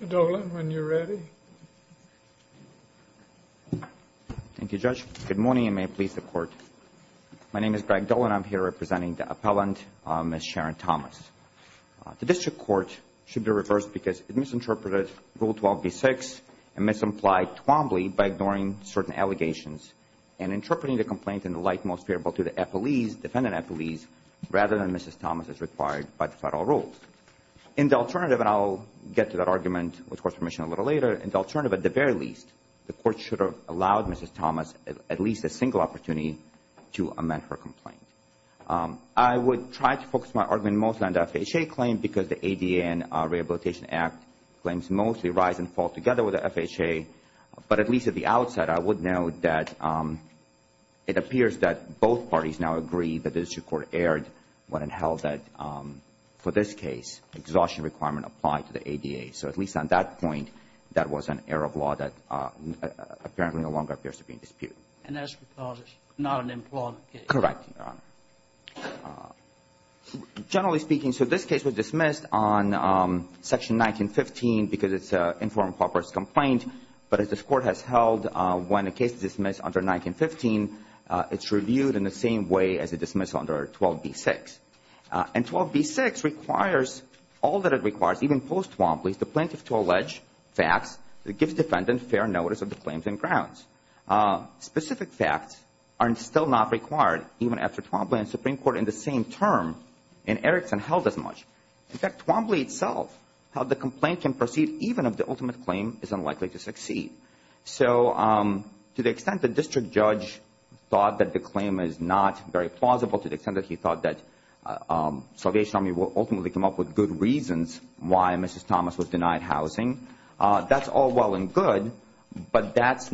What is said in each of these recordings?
Mr. Dolan, when you're ready. Thank you, Judge. Good morning and may it please the Court. My name is Greg Dolan. I'm here representing the appellant, Ms. Sharon Thomas. The district court should be reversed because it misinterpreted Rule 12b-6 and misimplied Twombly by ignoring certain allegations and interpreting the complaint in the light most favorable to the defendant appellees rather than Mrs. Thomas as required by the federal rules. In the alternative, and I'll get to that argument with Court's permission a little later, in the alternative, at the very least, the Court should have allowed Mrs. Thomas at least a single opportunity to amend her complaint. I would try to focus my argument mostly on the FHA claim because the ADA and Rehabilitation Act claims mostly rise and fall together with the FHA, but at least at the outside I would note that it appears that both parties now agree that the district court erred when it held that, for this case, the exhaustion requirement applied to the ADA. So at least on that point, that was an error of law that apparently no longer appears to be in dispute. And that's because it's not an employment case? Correct, Your Honor. Generally speaking, so this case was dismissed on Section 1915 because it's an informed purpose complaint, but as this Court has held, when a case is dismissed under 1915, it's reviewed in the same way as it's dismissed under 12b-6. And 12b-6 requires, all that it requires, even post-Twombly, the plaintiff to allege facts that give defendants fair notice of the claims and grounds. Specific facts are still not required, even after Twombly and the Supreme Court in the same term in Erickson held as much. In fact, Twombly itself held the complaint can proceed even if the ultimate claim is unlikely to succeed. So to the extent the district judge thought that the claim is not very plausible, to the extent that he thought that Salvation Army would ultimately come up with good reasons why Mrs. Thomas was denied housing, that's all well and good, but this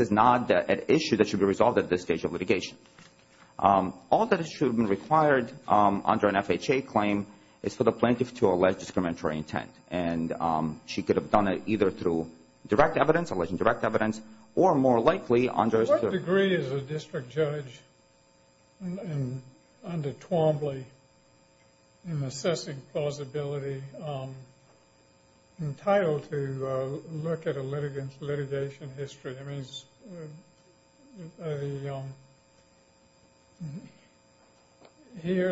is not an issue that should be resolved at this stage of litigation. All that should be required under an FHA claim is for the plaintiff to allege a discriminatory intent. And she could have done it either through direct evidence, alleging direct evidence, or more likely under a statute. What degree is a district judge under Twombly in assessing plausibility entitled to look at a litigation history? Here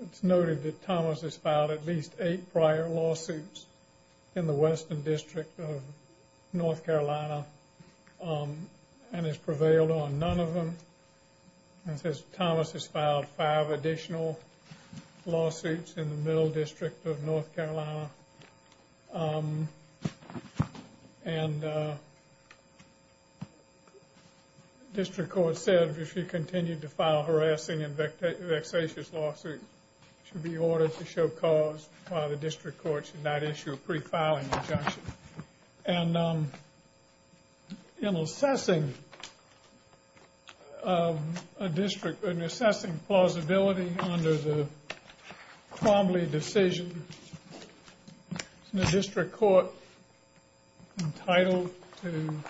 it's noted that Thomas has filed at least eight prior lawsuits in the western district of North Carolina and has prevailed on none of them. It says Thomas has filed five additional lawsuits in the middle district of North Carolina. And district court said if she continued to file harassing and vexatious lawsuits, it should be ordered to show cause while the district court should not issue a pre-filing injunction. And in assessing a district, in assessing plausibility under the Twombly decision, isn't the district court entitled to, in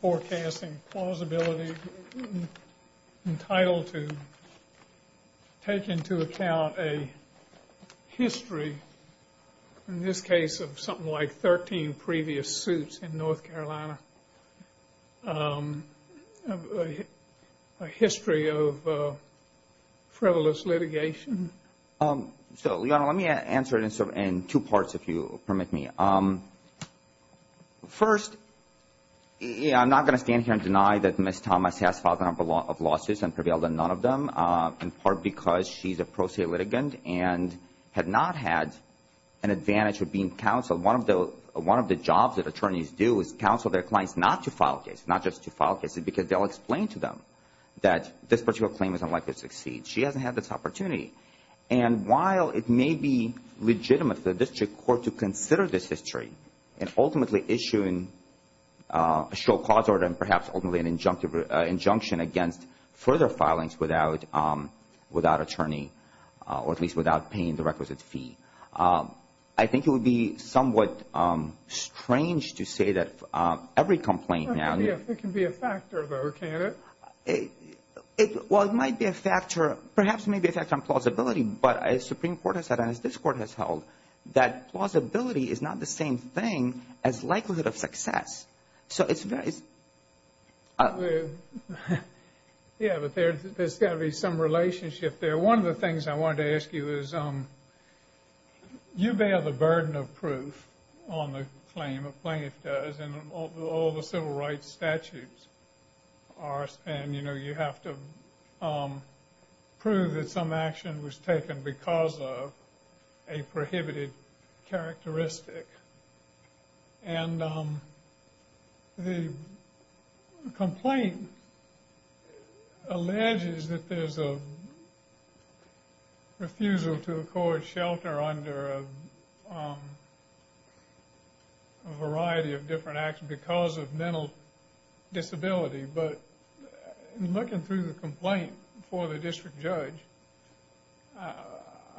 forecasting plausibility, entitled to take into account a history, in this case of something like 13 previous suits in North Carolina, a history of frivolous litigation? So, Leon, let me answer it in two parts, if you'll permit me. First, I'm not going to stand here and deny that Ms. Thomas has filed a number of lawsuits and prevailed on none of them, in part because she's a pro se litigant and had not had an advantage of being counsel. One of the jobs that attorneys do is counsel their clients not to file cases, not just to file cases, because they'll explain to them that this particular claim is unlikely to succeed. She hasn't had this opportunity. And while it may be legitimate for the district court to consider this history and ultimately issue a show cause order and perhaps ultimately an injunction against further filings without attorney, or at least without paying the requisite fee, I think it would be somewhat strange to say that every complaint now It can be a factor, though, can't it? Well, it might be a factor, perhaps it may be a factor on plausibility, but as Supreme Court has said and as this court has held, that plausibility is not the same thing as likelihood of success. So it's very Yeah, but there's got to be some relationship there. One of the things I wanted to ask you is you bear the burden of proof on the claim, and the claim does, and all the civil rights statutes are, and you know, you have to prove that some action was taken because of a prohibited characteristic. And the complaint alleges that there's a refusal to accord shelter under a variety of different actions because of mental disability, but looking through the complaint for the district judge,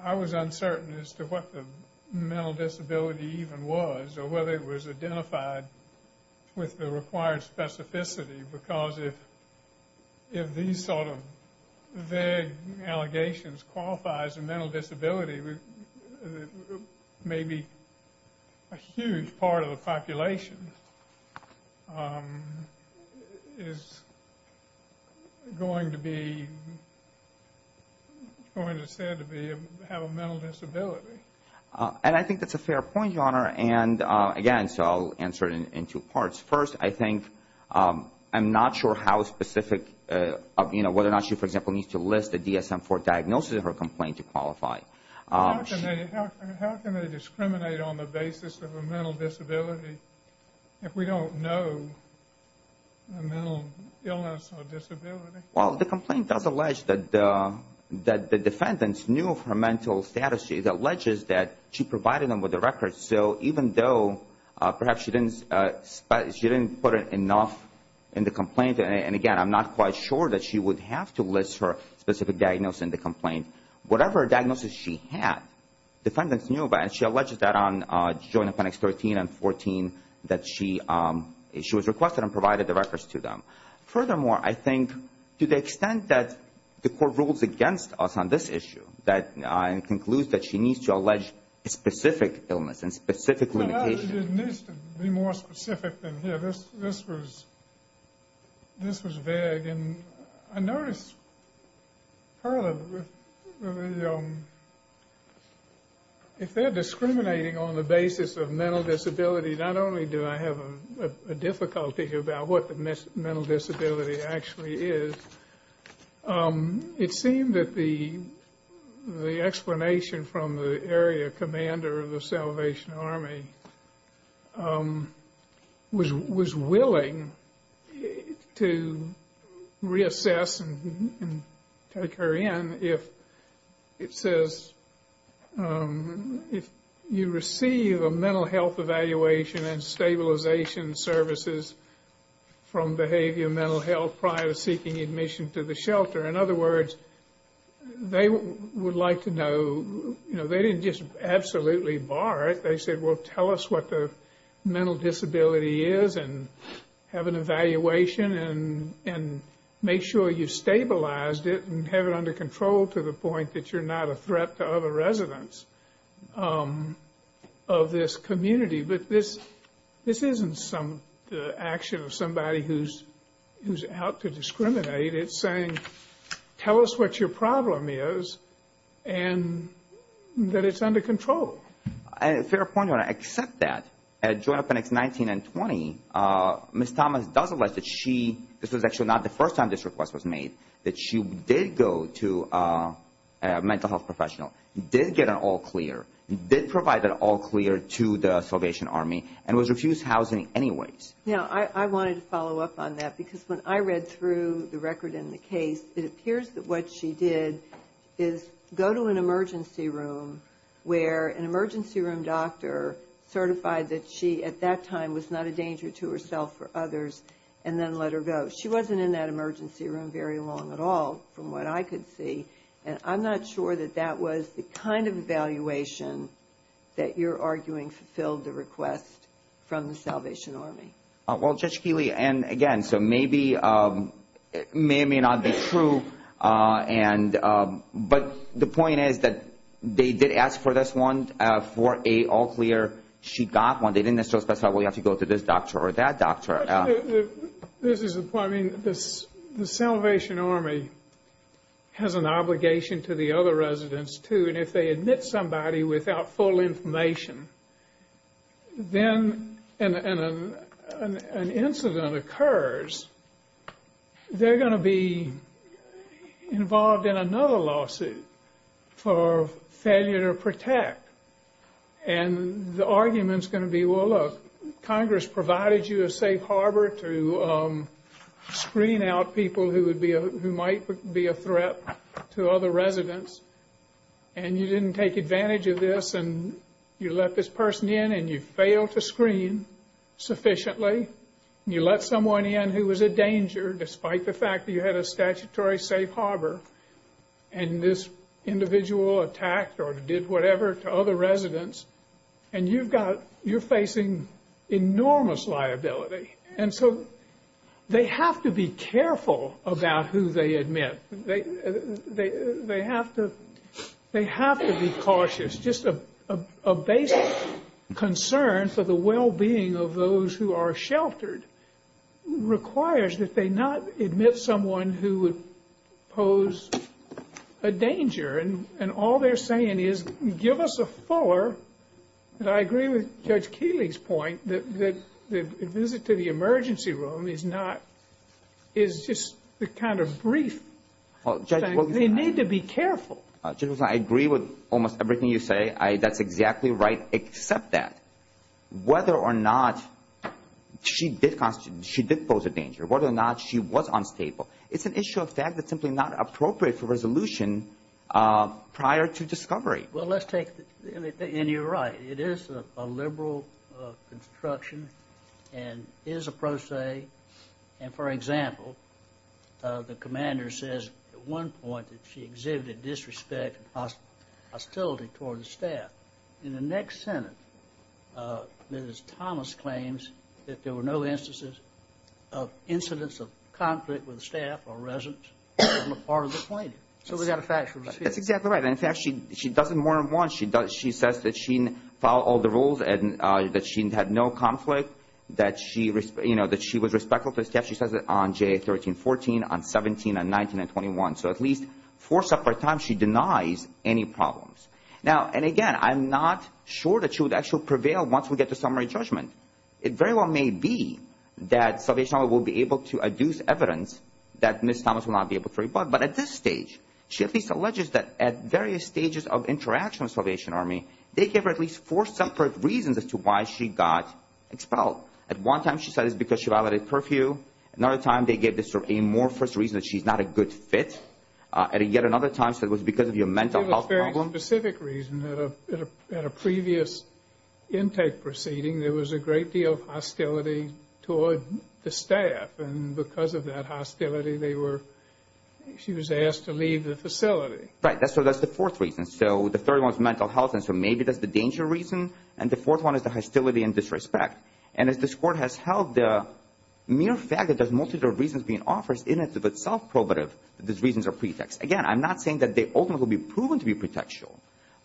I was uncertain as to what the mental disability even was, or whether it was identified with the required specificity, because if these sort of vague allegations qualifies as a mental disability, maybe a huge part of the population is going to be said to have a mental disability. And I think that's a fair point, Your Honor. And again, so I'll answer it in two parts. First, I think I'm not sure how specific, you know, whether or not she, for example, needs to list a DSM-IV diagnosis in her complaint to qualify. How can they discriminate on the basis of a mental disability if we don't know a mental illness or disability? Well, the complaint does allege that the defendants knew of her mental status. It alleges that she provided them with the records, so even though perhaps she didn't put enough in the complaint, and again, I'm not quite sure that she would have to list her specific diagnosis in the complaint, whatever diagnosis she had, defendants knew about it, and she alleges that on Joint Appendix 13 and 14 that she was requested and provided the records to them. Furthermore, I think to the extent that the Court rules against us on this issue, that it concludes that she needs to allege a specific illness and specific limitation. It needs to be more specific than here. This was vague, and I noticed, if they're discriminating on the basis of mental disability, not only do I have a difficulty about what the mental disability actually is, it seemed that the explanation from the area commander of the Salvation Army was willing to reassess and take her in if it says, if you receive a mental health evaluation and stabilization services from Behavioral Mental Health prior to seeking admission to the shelter. In other words, they would like to know. They didn't just absolutely bar it. They said, well, tell us what the mental disability is and have an evaluation and make sure you've stabilized it and have it under control to the point that you're not a threat to other residents of this community. But this isn't some action of somebody who's out to discriminate. It's saying, tell us what your problem is and that it's under control. Fair point, Your Honor. Except that, at Joint Appendix 19 and 20, Ms. Thomas does allege that she, this was actually not the first time this request was made, that she did go to a mental health professional, did get an all clear, did provide an all clear to the Salvation Army, and was refused housing anyways. Yeah, I wanted to follow up on that because when I read through the record and the case, it appears that what she did is go to an emergency room where an emergency room doctor certified that she, at that time, was not a danger to herself or others and then let her go. She wasn't in that emergency room very long at all from what I could see, and I'm not sure that that was the kind of evaluation that you're arguing fulfilled the request from the Salvation Army. Well, Judge Keeley, and again, so maybe it may or may not be true, but the point is that they did ask for this one for an all clear. She got one. They didn't necessarily specify, well, you have to go to this doctor or that doctor. This is the point. I mean, the Salvation Army has an obligation to the other residents, too, and if they admit somebody without full information, then an incident occurs. They're going to be involved in another lawsuit for failure to protect, and the argument is going to be, well, look, Congress provided you a safe harbor to screen out people who might be a threat to other residents, and you didn't take advantage of this, and you let this person in, and you failed to screen sufficiently. You let someone in who was a danger despite the fact that you had a statutory safe harbor, and this individual attacked or did whatever to other residents, and you've got you're facing enormous liability, and so they have to be careful about who they admit. They have to be cautious. Just a basic concern for the well-being of those who are sheltered requires that they not admit someone who would pose a danger, and all they're saying is give us a fuller, and I agree with Judge Keeley's point that the visit to the emergency room is not, is just the kind of brief thing. They need to be careful. Judge Wilson, I agree with almost everything you say. That's exactly right, except that whether or not she did constitute, she did pose a danger, whether or not she was unstable, it's an issue of fact that's simply not appropriate for resolution prior to discovery. Well, let's take, and you're right. It is a liberal construction and is a pro se, and, for example, the commander says at one point that she exhibited disrespect and hostility toward the staff. In the next sentence, Ms. Thomas claims that there were no instances of incidents of conflict with staff or residents on the part of the plaintiff. So we've got a factual dispute. That's exactly right. In fact, she does it more than once. She says that she followed all the rules and that she had no conflict, that she was respectful to the staff. She says it on JA 1314, on 17, on 19 and 21. So at least four separate times she denies any problems. Now, and again, I'm not sure that she would actually prevail once we get to summary judgment. It very well may be that Salvation Army will be able to adduce evidence that Ms. Thomas will not be able to rebut. But at this stage, she at least alleges that at various stages of interaction with Salvation Army, they gave her at least four separate reasons as to why she got expelled. At one time she said it was because she violated curfew. Another time they gave this sort of amorphous reason that she's not a good fit. And yet another time she said it was because of your mental health problem. She gave a very specific reason. At a previous intake proceeding, there was a great deal of hostility toward the staff. And because of that hostility, they were ‑‑ she was asked to leave the facility. Right. So that's the fourth reason. So the third one is mental health. And so maybe that's the danger reason. And the fourth one is the hostility and disrespect. And as this Court has held, the mere fact that there's multitude of reasons being offered is in and of itself prohibitive that these reasons are pretext. Again, I'm not saying that they ultimately will be proven to be pretextual.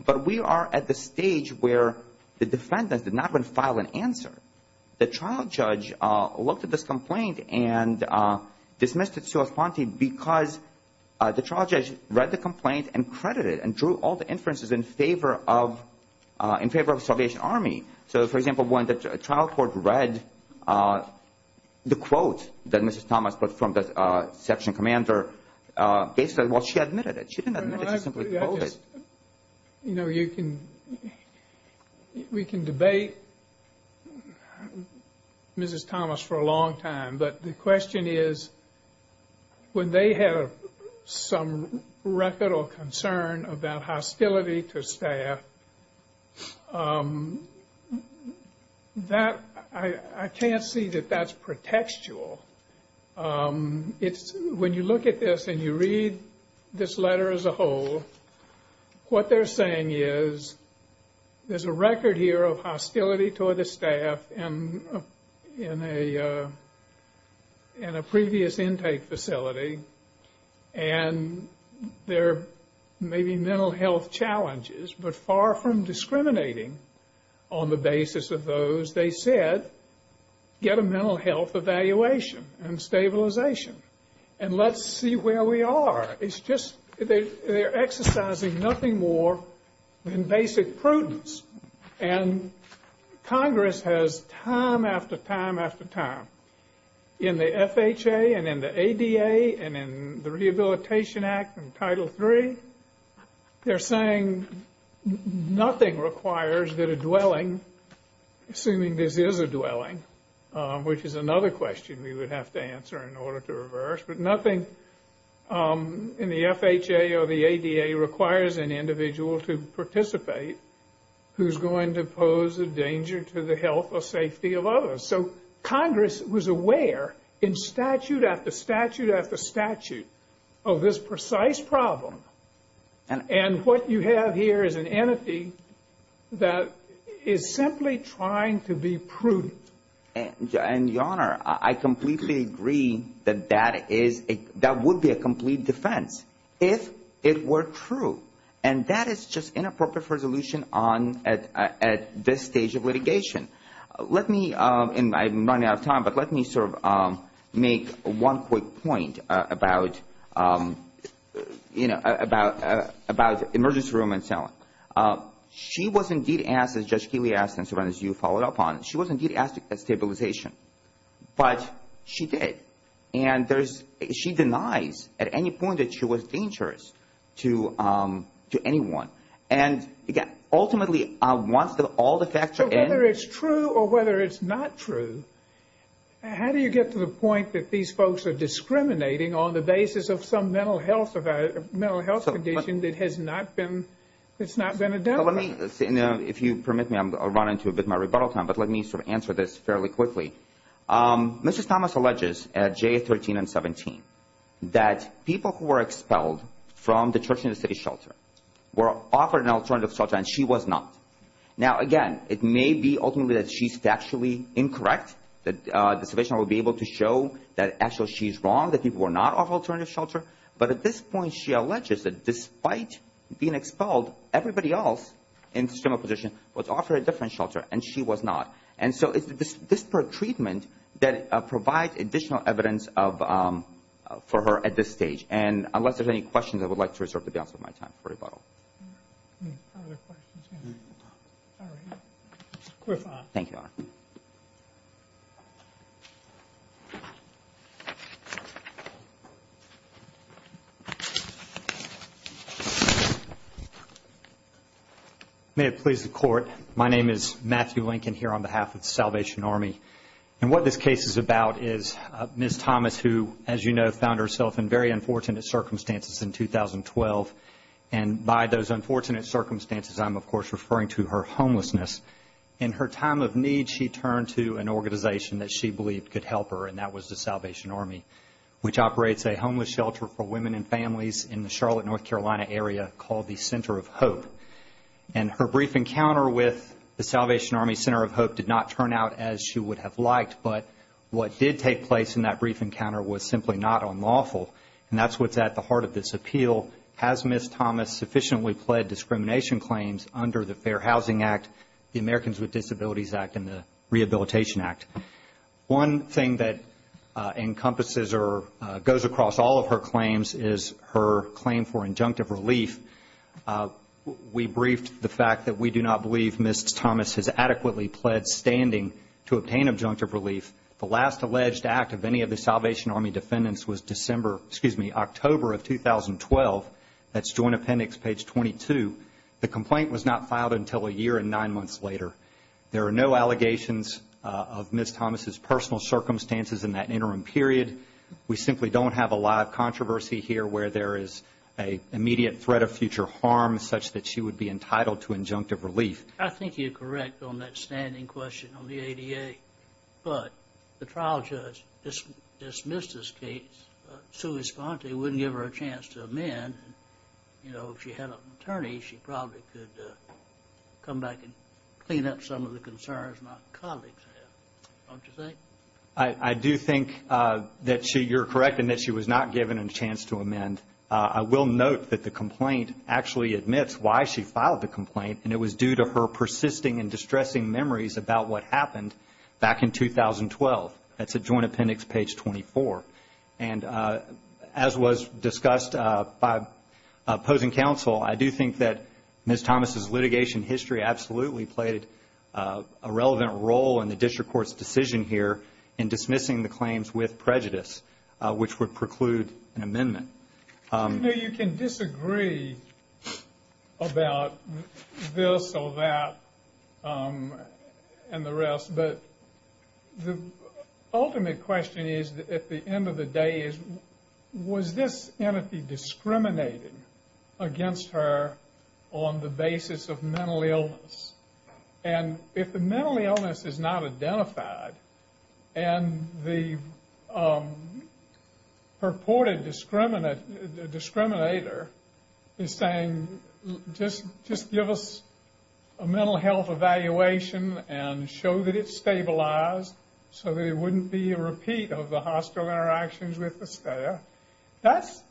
But we are at the stage where the defendants did not want to file an answer. The trial judge looked at this complaint and dismissed it sui fonti because the trial judge read the complaint and credited it and drew all the inferences in favor of Salvation Army. So, for example, when the trial court read the quote that Mrs. Thomas put from the section commander, they said, well, she admitted it. She didn't admit it. She simply quoted it. You know, you can ‑‑ we can debate Mrs. Thomas for a long time. But the question is, when they have some record or concern about hostility to staff, I can't see that that's pretextual. When you look at this and you read this letter as a whole, what they're saying is there's a record here of hostility toward the staff in a previous intake facility. And there may be mental health challenges, but far from discriminating on the basis of those, they said get a mental health evaluation and stabilization and let's see where we are. It's just they're exercising nothing more than basic prudence. And Congress has, time after time after time, in the FHA and in the ADA and in the Rehabilitation Act and Title III, they're saying nothing requires that a dwelling, assuming this is a dwelling, which is another question we would have to answer in order to reverse, but nothing in the FHA or the ADA requires an individual to participate who's going to pose a danger to the health or safety of others. So Congress was aware in statute after statute after statute of this precise problem. And what you have here is an entity that is simply trying to be prudent. And, Your Honor, I completely agree that that would be a complete defense if it were true. And that is just inappropriate for resolution at this stage of litigation. Let me, and I'm running out of time, but let me sort of make one quick point about emergency room and cell. She was indeed asked, as Judge Keeley asked and, Your Honor, as you followed up on, she was indeed asked at stabilization, but she did. And there's, she denies at any point that she was dangerous to anyone. And ultimately, once all the facts are in. So whether it's true or whether it's not true, how do you get to the point that these folks are discriminating on the basis of some mental health condition that has not been, that's not been addressed? If you permit me, I'll run into a bit of my rebuttal time, but let me sort of answer this fairly quickly. Mrs. Thomas alleges at J13 and 17 that people who were expelled from the church and the city shelter were offered an alternative shelter and she was not. Now, again, it may be ultimately that she's factually incorrect, that the submission will be able to show that actually she's wrong, that people were not offered alternative shelter. But at this point, she alleges that despite being expelled, everybody else in the similar position was offered a different shelter and she was not. And so it's the disparate treatment that provides additional evidence for her at this stage. And unless there's any questions, I would like to reserve the balance of my time for rebuttal. Any further questions? All right. We're fine. Thank you, Your Honor. May it please the Court. My name is Matthew Lincoln here on behalf of Salvation Army. And what this case is about is Ms. Thomas who, as you know, found herself in very unfortunate circumstances in 2012. And by those unfortunate circumstances, I'm, of course, referring to her homelessness. In her time of need, she turned to an organization that she believed could help her, and that was the Salvation Army, which operates a homeless shelter for women and families in the Charlotte, North Carolina area called the Center of Hope. And her brief encounter with the Salvation Army Center of Hope did not turn out as she would have liked, but what did take place in that brief encounter was simply not unlawful. And that's what's at the heart of this appeal. Has Ms. Thomas sufficiently pled discrimination claims under the Fair Housing Act, the Americans with Disabilities Act, and the Rehabilitation Act? One thing that encompasses or goes across all of her claims is her claim for injunctive relief. We briefed the fact that we do not believe Ms. Thomas has adequately pled standing to obtain injunctive relief. The last alleged act of any of the Salvation Army defendants was October of 2012. That's Joint Appendix, page 22. The complaint was not filed until a year and nine months later. There are no allegations of Ms. Thomas's personal circumstances in that interim period. We simply don't have a lot of controversy here where there is an immediate threat of future harm such that she would be entitled to injunctive relief. I think you're correct on that standing question on the ADA, but the trial judge dismissed this case. Sui sponte wouldn't give her a chance to amend. You know, if she had an attorney, she probably could come back and clean up some of the concerns my colleagues have, don't you think? I do think that you're correct in that she was not given a chance to amend. I will note that the complaint actually admits why she filed the complaint, and it was due to her persisting and distressing memories about what happened back in 2012. That's at Joint Appendix, page 24. And as was discussed by opposing counsel, I do think that Ms. Thomas's litigation history absolutely played a relevant role in the district court's decision here in dismissing the claims with prejudice, which would preclude an amendment. I know you can disagree about this or that and the rest, but the ultimate question is, at the end of the day, was this entity discriminating against her on the basis of mental illness? And if the mental illness is not identified, and the purported discriminator is saying, just give us a mental health evaluation and show that it's stabilized so there wouldn't be a repeat of the hostile interactions with the stayer, that's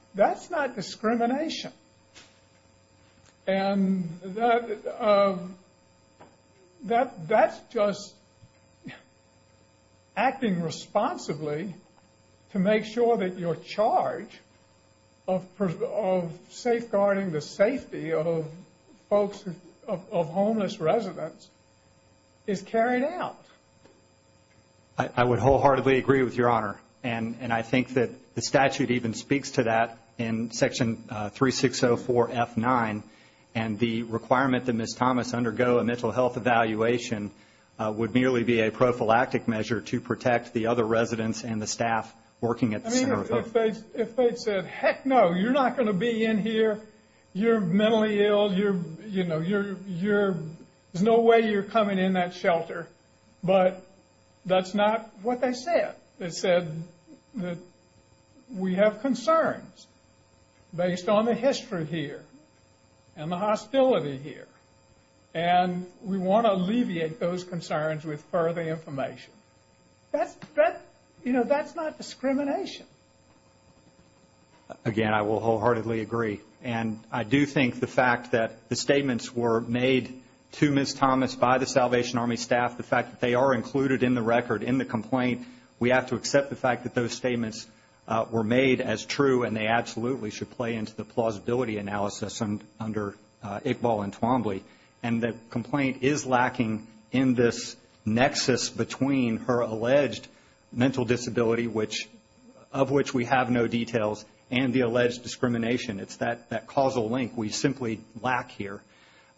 not discrimination. And that's just acting responsibly to make sure that your charge of safeguarding the safety of homeless residents is carried out. I would wholeheartedly agree with Your Honor, and I think that the statute even speaks to that in Section 3604F9, and the requirement that Ms. Thomas undergo a mental health evaluation would merely be a prophylactic measure to protect the other residents and the staff working at the center. I mean, if they'd said, heck no, you're not going to be in here, you're mentally ill, there's no way you're coming in that shelter, but that's not what they said. They said that we have concerns based on the history here and the hostility here, and we want to alleviate those concerns with further information. That's not discrimination. Again, I will wholeheartedly agree, and I do think the fact that the statements were made to Ms. Thomas by the Salvation Army staff, the fact that they are included in the record in the complaint, we have to accept the fact that those statements were made as true and they absolutely should play into the plausibility analysis under Iqbal and Twombly. And the complaint is lacking in this nexus between her alleged mental disability, of which we have no details, and the alleged discrimination. It's that causal link we simply lack here.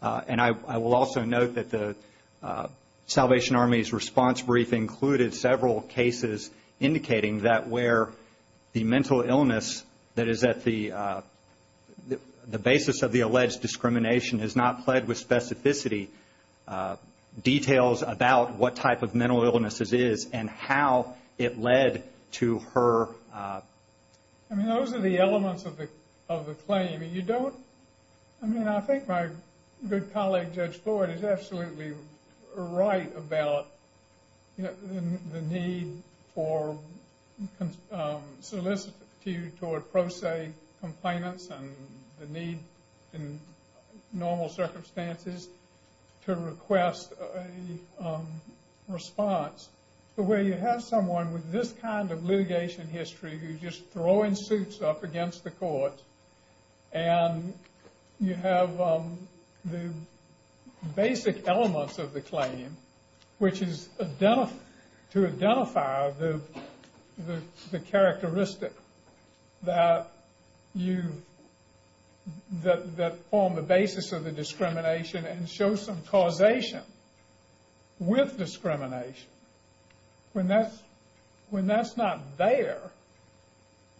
And I will also note that the Salvation Army's response brief included several cases indicating that where the mental illness that is at the basis of the alleged discrimination has not pled with specificity details about what type of mental illness it is and how it led to her. I mean, those are the elements of the claim. I mean, I think my good colleague, Judge Floyd, is absolutely right about the need for solicitude toward pro se complainants and the need in normal circumstances to request a response. But where you have someone with this kind of litigation history who's just throwing suits up against the court and you have the basic elements of the claim, which is to identify the characteristic that form the basis of the discrimination and show some causation with discrimination, when that's not there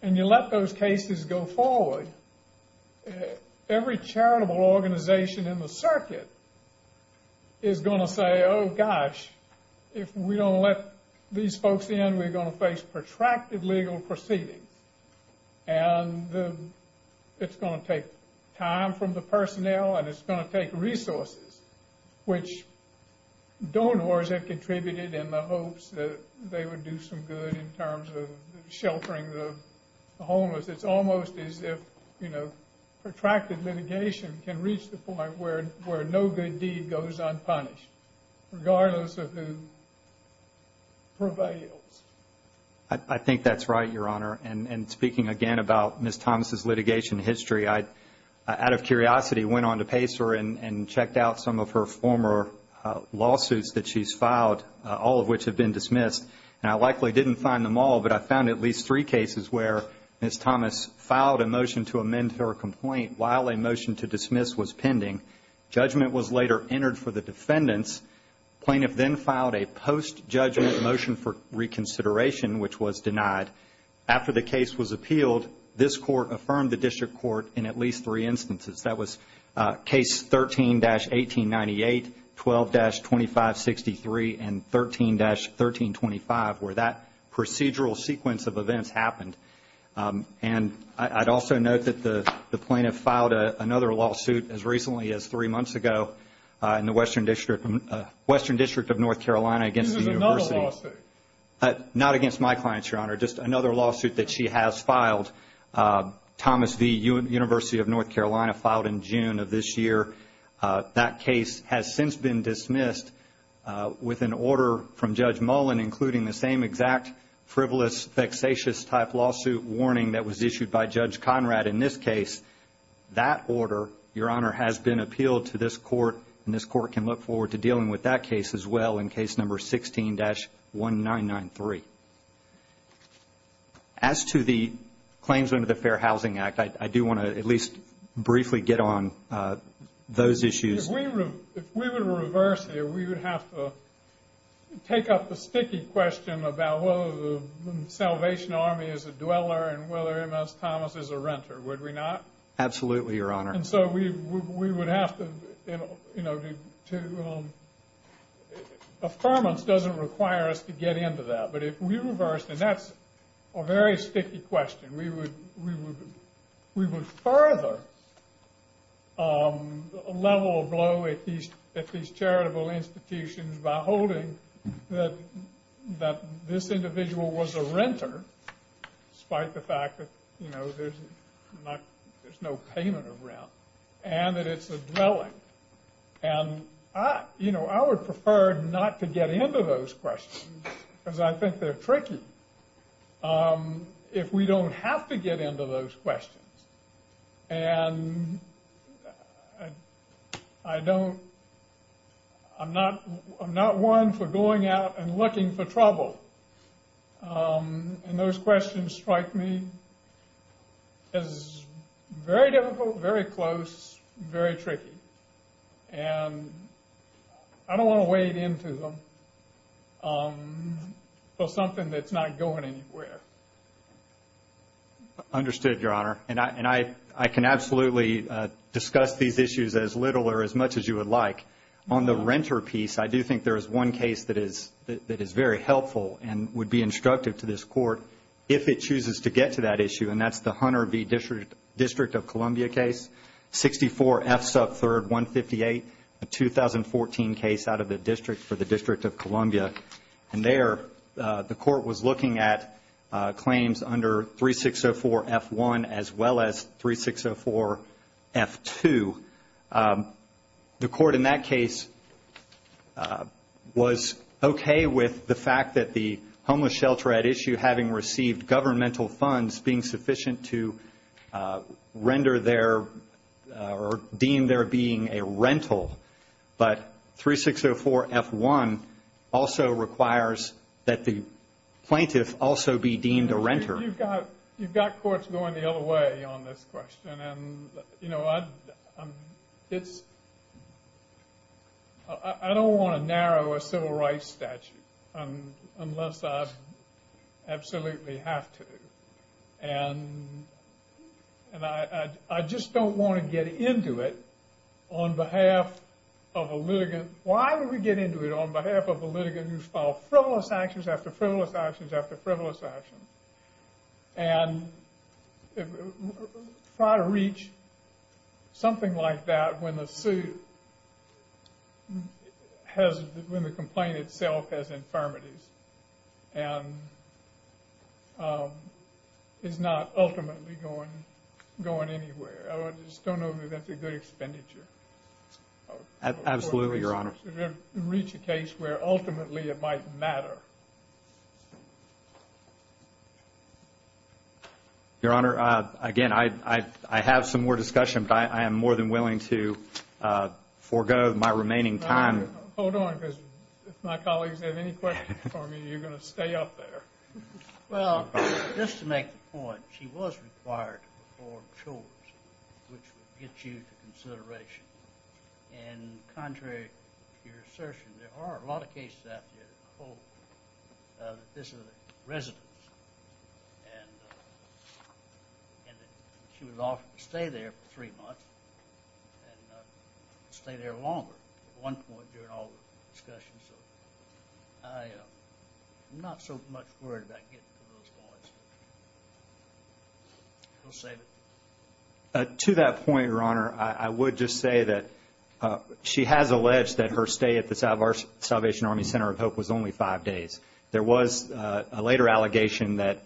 and you let those cases go forward, every charitable organization in the circuit is going to say, oh gosh, if we don't let these folks in, we're going to face protracted legal proceedings. And it's going to take time from the personnel and it's going to take resources, which donors have contributed in the hopes that they would do some good in terms of sheltering the homeless. It's almost as if protracted litigation can reach the point where no good deed goes unpunished, regardless of who prevails. I think that's right, Your Honor. And speaking again about Ms. Thomas' litigation history, I, out of curiosity, went on to pace her and checked out some of her former lawsuits that she's filed, all of which have been dismissed. And I likely didn't find them all, but I found at least three cases where Ms. Thomas filed a motion to amend her complaint while a motion to dismiss was pending. Judgment was later entered for the defendants. The plaintiff then filed a post-judgment motion for reconsideration, which was denied. After the case was appealed, this Court affirmed the district court in at least three instances. That was case 13-1898, 12-2563, and 13-1325, where that procedural sequence of events happened. And I'd also note that the plaintiff filed another lawsuit as recently as three months ago in the Western District of North Carolina against the university. This is another lawsuit? Not against my clients, Your Honor, just another lawsuit that she has filed. Thomas v. University of North Carolina, filed in June of this year. That case has since been dismissed with an order from Judge Mullen, including the same exact frivolous, vexatious-type lawsuit warning that was issued by Judge Conrad in this case. That order, Your Honor, has been appealed to this Court, and this Court can look forward to dealing with that case as well in case number 16-1993. As to the claims under the Fair Housing Act, I do want to at least briefly get on those issues. If we were to reverse here, we would have to take up the sticky question about whether the Salvation Army is a dweller and whether M.S. Thomas is a renter, would we not? Absolutely, Your Honor. Affirmance doesn't require us to get into that, but if we reversed, and that's a very sticky question, we would further a level of blow at these charitable institutions by holding that this individual was a renter, despite the fact that there's no payment of rent, and that it's a dwelling. I would prefer not to get into those questions, because I think they're tricky, if we don't have to get into those questions. And I'm not one for going out and looking for trouble, and those questions strike me as very difficult, very close, very tricky. And I don't want to wade into them for something that's not going anywhere. Understood, Your Honor. And I can absolutely discuss these issues as little or as much as you would like. On the renter piece, I do think there is one case that is very helpful and would be instructive to this Court, if it chooses to get to that issue, and that's the Hunter v. District of Columbia case, 64 F. Sup. 3rd 158, a 2014 case out of the District for the District of Columbia. And there the Court was looking at claims under 3604 F. 1 as well as 3604 F. 2. The Court in that case was okay with the fact that the homeless shelter at issue, having received governmental funds, being sufficient to render their or deem their being a rental. But 3604 F. 1 also requires that the plaintiff also be deemed a renter. You've got courts going the other way on this question. And, you know, I don't want to narrow a civil rights statute unless I absolutely have to. And I just don't want to get into it on behalf of a litigant. Why would we get into it on behalf of a litigant who's filed frivolous actions after frivolous actions after frivolous actions and try to reach something like that when the complaint itself has infirmities. And is not ultimately going anywhere. I just don't know that that's a good expenditure. Absolutely, Your Honor. To reach a case where ultimately it might matter. Your Honor, again, I have some more discussion, but I am more than willing to forego my remaining time. Hold on, because if my colleagues have any questions for me, you're going to stay up there. Well, just to make the point, she was required to perform chores, which would get you to consideration. And contrary to your assertion, there are a lot of cases out there that hold that this is a residence. And she was offered to stay there for three months and stay there longer. At one point during all the discussion, so I am not so much worried about getting to those points. We'll save it. To that point, Your Honor, I would just say that she has alleged that her stay at the Salvation Army Center of Hope was only five days. There was a later allegation that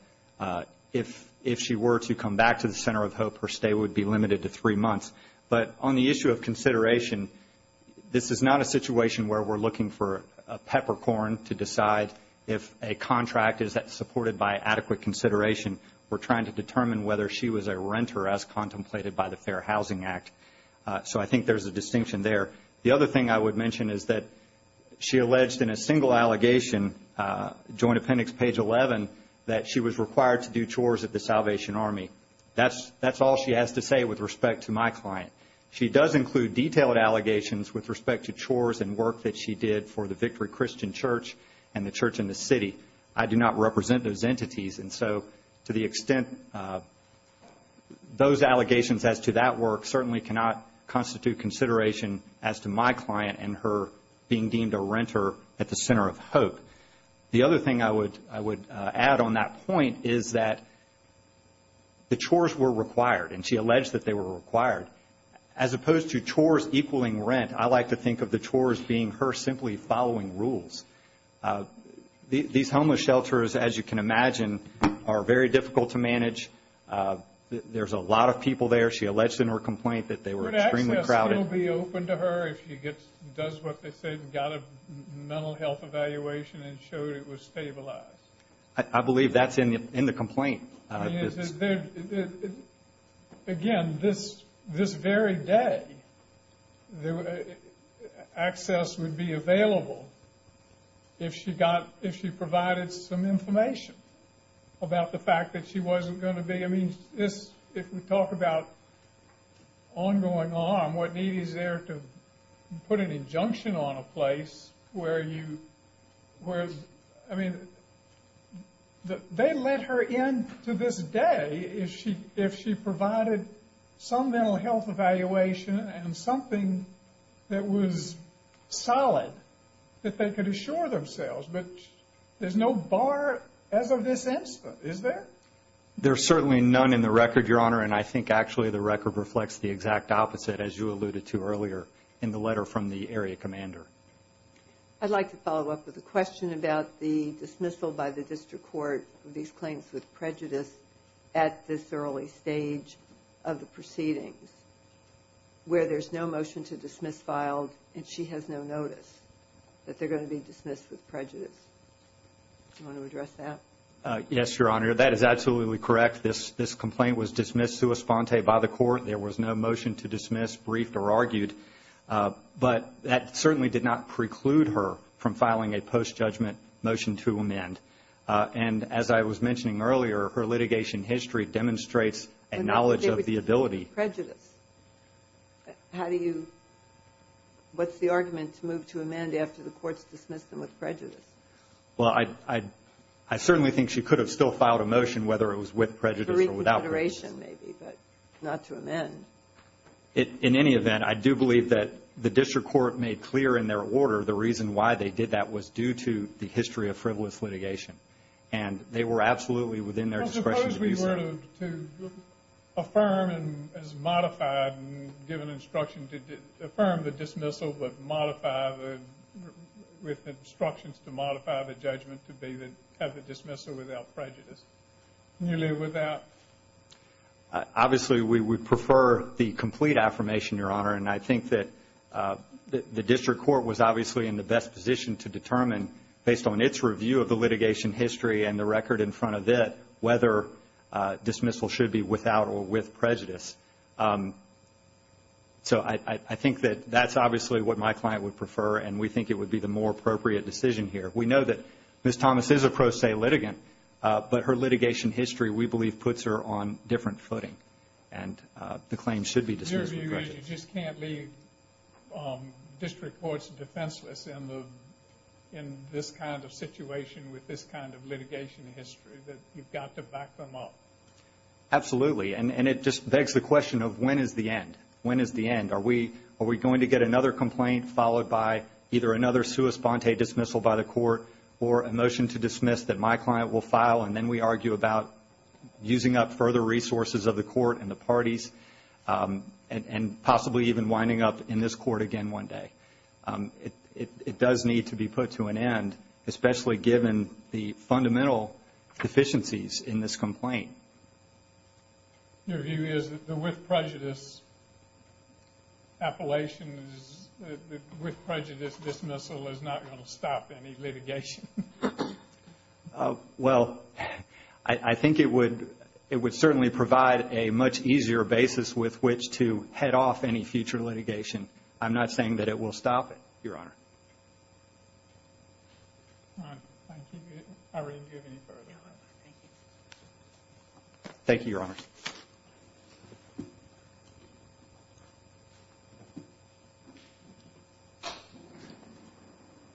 if she were to come back to the Center of Hope, her stay would be limited to three months. But on the issue of consideration, this is not a situation where we're looking for a peppercorn to decide if a contract is supported by adequate consideration. We're trying to determine whether she was a renter as contemplated by the Fair Housing Act. So I think there's a distinction there. The other thing I would mention is that she alleged in a single allegation, joint appendix page 11, that she was required to do chores at the Salvation Army. That's all she has to say with respect to my client. She does include detailed allegations with respect to chores and work that she did for the Victory Christian Church and the church in the city. I do not represent those entities. And so to the extent those allegations as to that work certainly cannot constitute consideration as to my client and her being deemed a renter at the Center of Hope. The other thing I would add on that point is that the chores were required, and she alleged that they were required. As opposed to chores equaling rent, I like to think of the chores being her simply following rules. These homeless shelters, as you can imagine, are very difficult to manage. There's a lot of people there. She alleged in her complaint that they were extremely crowded. I guess it will be open to her if she does what they say and got a mental health evaluation and showed it was stabilized. I believe that's in the complaint. Again, this very day, access would be available if she provided some information about the fact that she wasn't going to be. I mean, if we talk about ongoing harm, what need is there to put an injunction on a place where you – I mean, they let her in to this day if she provided some mental health evaluation and something that was solid that they could assure themselves. But there's no bar as of this instance, is there? There's certainly none in the record, Your Honor, and I think actually the record reflects the exact opposite, as you alluded to earlier in the letter from the area commander. I'd like to follow up with a question about the dismissal by the district court of these claims with prejudice at this early stage of the proceedings where there's no motion to dismiss filed and she has no notice that they're going to be dismissed with prejudice. Do you want to address that? Yes, Your Honor. That is absolutely correct. This complaint was dismissed sua sponte by the court. There was no motion to dismiss, briefed, or argued. But that certainly did not preclude her from filing a post-judgment motion to amend. And as I was mentioning earlier, her litigation history demonstrates a knowledge of the ability. How do you – what's the argument to move to amend after the courts dismiss them with prejudice? Well, I certainly think she could have still filed a motion whether it was with prejudice or without prejudice. For reconsideration maybe, but not to amend. In any event, I do believe that the district court made clear in their order the reason why they did that was due to the history of frivolous litigation. And they were absolutely within their discretion to do so. Well, suppose we were to affirm as modified and given instruction to affirm the dismissal with instructions to modify the judgment to have the dismissal without prejudice. Nearly without? Obviously, we would prefer the complete affirmation, Your Honor. And I think that the district court was obviously in the best position to determine, based on its review of the litigation history and the record in front of it, whether dismissal should be without or with prejudice. So I think that that's obviously what my client would prefer, and we think it would be the more appropriate decision here. We know that Ms. Thomas is a pro se litigant, but her litigation history, we believe, puts her on different footing, and the claim should be dismissed with prejudice. Your view is you just can't leave district courts defenseless in this kind of situation with this kind of litigation history, that you've got to back them up? Absolutely. And it just begs the question of when is the end? When is the end? Are we going to get another complaint followed by either another sua sponte dismissal by the court or a motion to dismiss that my client will file, and then we argue about using up further resources of the court and the parties and possibly even winding up in this court again one day? It does need to be put to an end, especially given the fundamental deficiencies in this complaint. Your view is that the with prejudice appellation, the with prejudice dismissal is not going to stop any litigation? Well, I think it would certainly provide a much easier basis with which to head off any future litigation. I'm not saying that it will stop it, Your Honor. Thank you, Your Honor.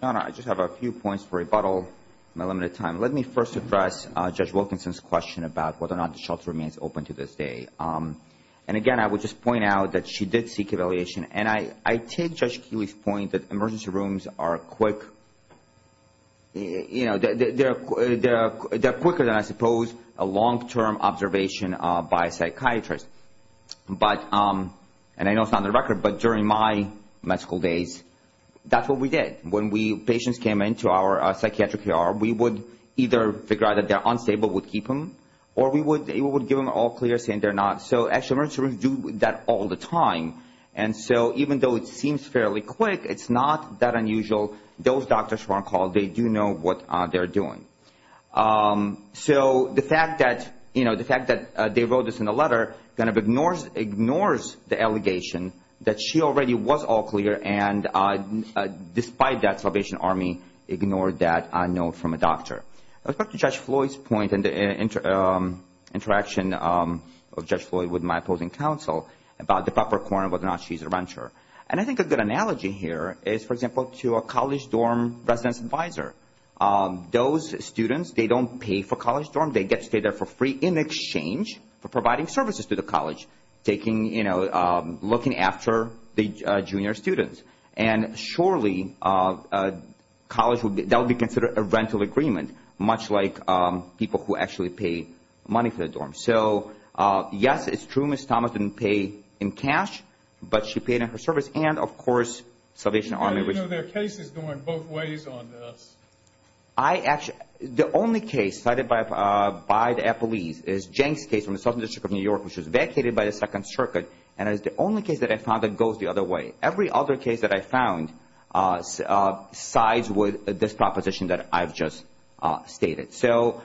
Your Honor, I just have a few points for rebuttal. My limited time. Let me first address Judge Wilkinson's question about whether or not the shelter remains open to this day. And again, I would just point out that she did seek evaluation, and I take Judge Keeley's point that emergency rooms are quick. They're quicker than, I suppose, a long-term observation by a psychiatrist. And I know it's not on the record, but during my medical days, that's what we did. When patients came into our psychiatric ER, we would either figure out that they're unstable, would keep them, or we would give them an all-clear saying they're not. So, actually, emergency rooms do that all the time. And so, even though it seems fairly quick, it's not that unusual. Those doctors who are on call, they do know what they're doing. So, the fact that they wrote this in a letter kind of ignores the allegation that she already was all-clear, and despite that, Salvation Army ignored that note from a doctor. Let's go to Judge Floyd's point and the interaction of Judge Floyd with my opposing counsel about the proper quorum of whether or not she's a renter. And I think a good analogy here is, for example, to a college dorm residence advisor. Those students, they don't pay for college dorms. They get to stay there for free in exchange for providing services to the college, taking, you know, looking after the junior students. And, surely, that would be considered a rental agreement, much like people who actually pay money for the dorms. So, yes, it's true Ms. Thomas didn't pay in cash, but she paid in her service. And, of course, Salvation Army – How do you know there are cases going both ways on this? I actually – the only case cited by the police is Jenk's case from the Southern District of New York, which was vacated by the Second Circuit, and it was the only case that I found that goes the other way. Every other case that I found sides with this proposition that I've just stated. So,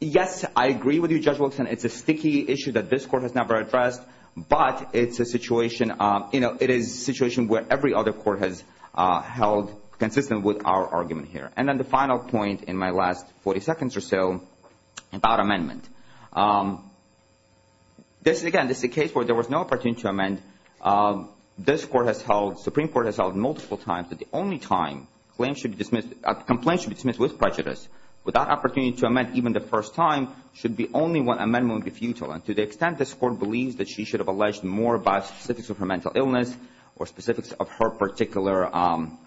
yes, I agree with you, Judge Wilkson. It's a sticky issue that this court has never addressed, but it's a situation – you know, it is a situation where every other court has held consistent with our argument here. And then the final point in my last 40 seconds or so about amendment. Again, this is a case where there was no opportunity to amend. This court has held – Supreme Court has held multiple times that the only time a complaint should be dismissed with prejudice, without opportunity to amend even the first time, should be only when amendment would be futile. And to the extent this court believes that she should have alleged more about specifics of her mental illness or specifics of her particular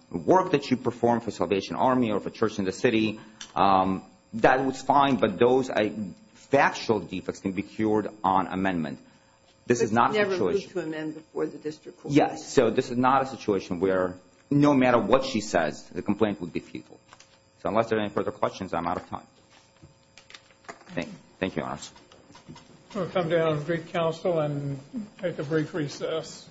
work that she performed for Salvation Army or for Church in the City, that was fine. But those factual defects can be cured on amendment. This is not a situation – But she never looked to amend before the district court. Yes, so this is not a situation where no matter what she says, the complaint would be futile. So unless there are any further questions, I'm out of time. Thank you, Your Honors. We'll come down to the Greek Council and take a brief recess.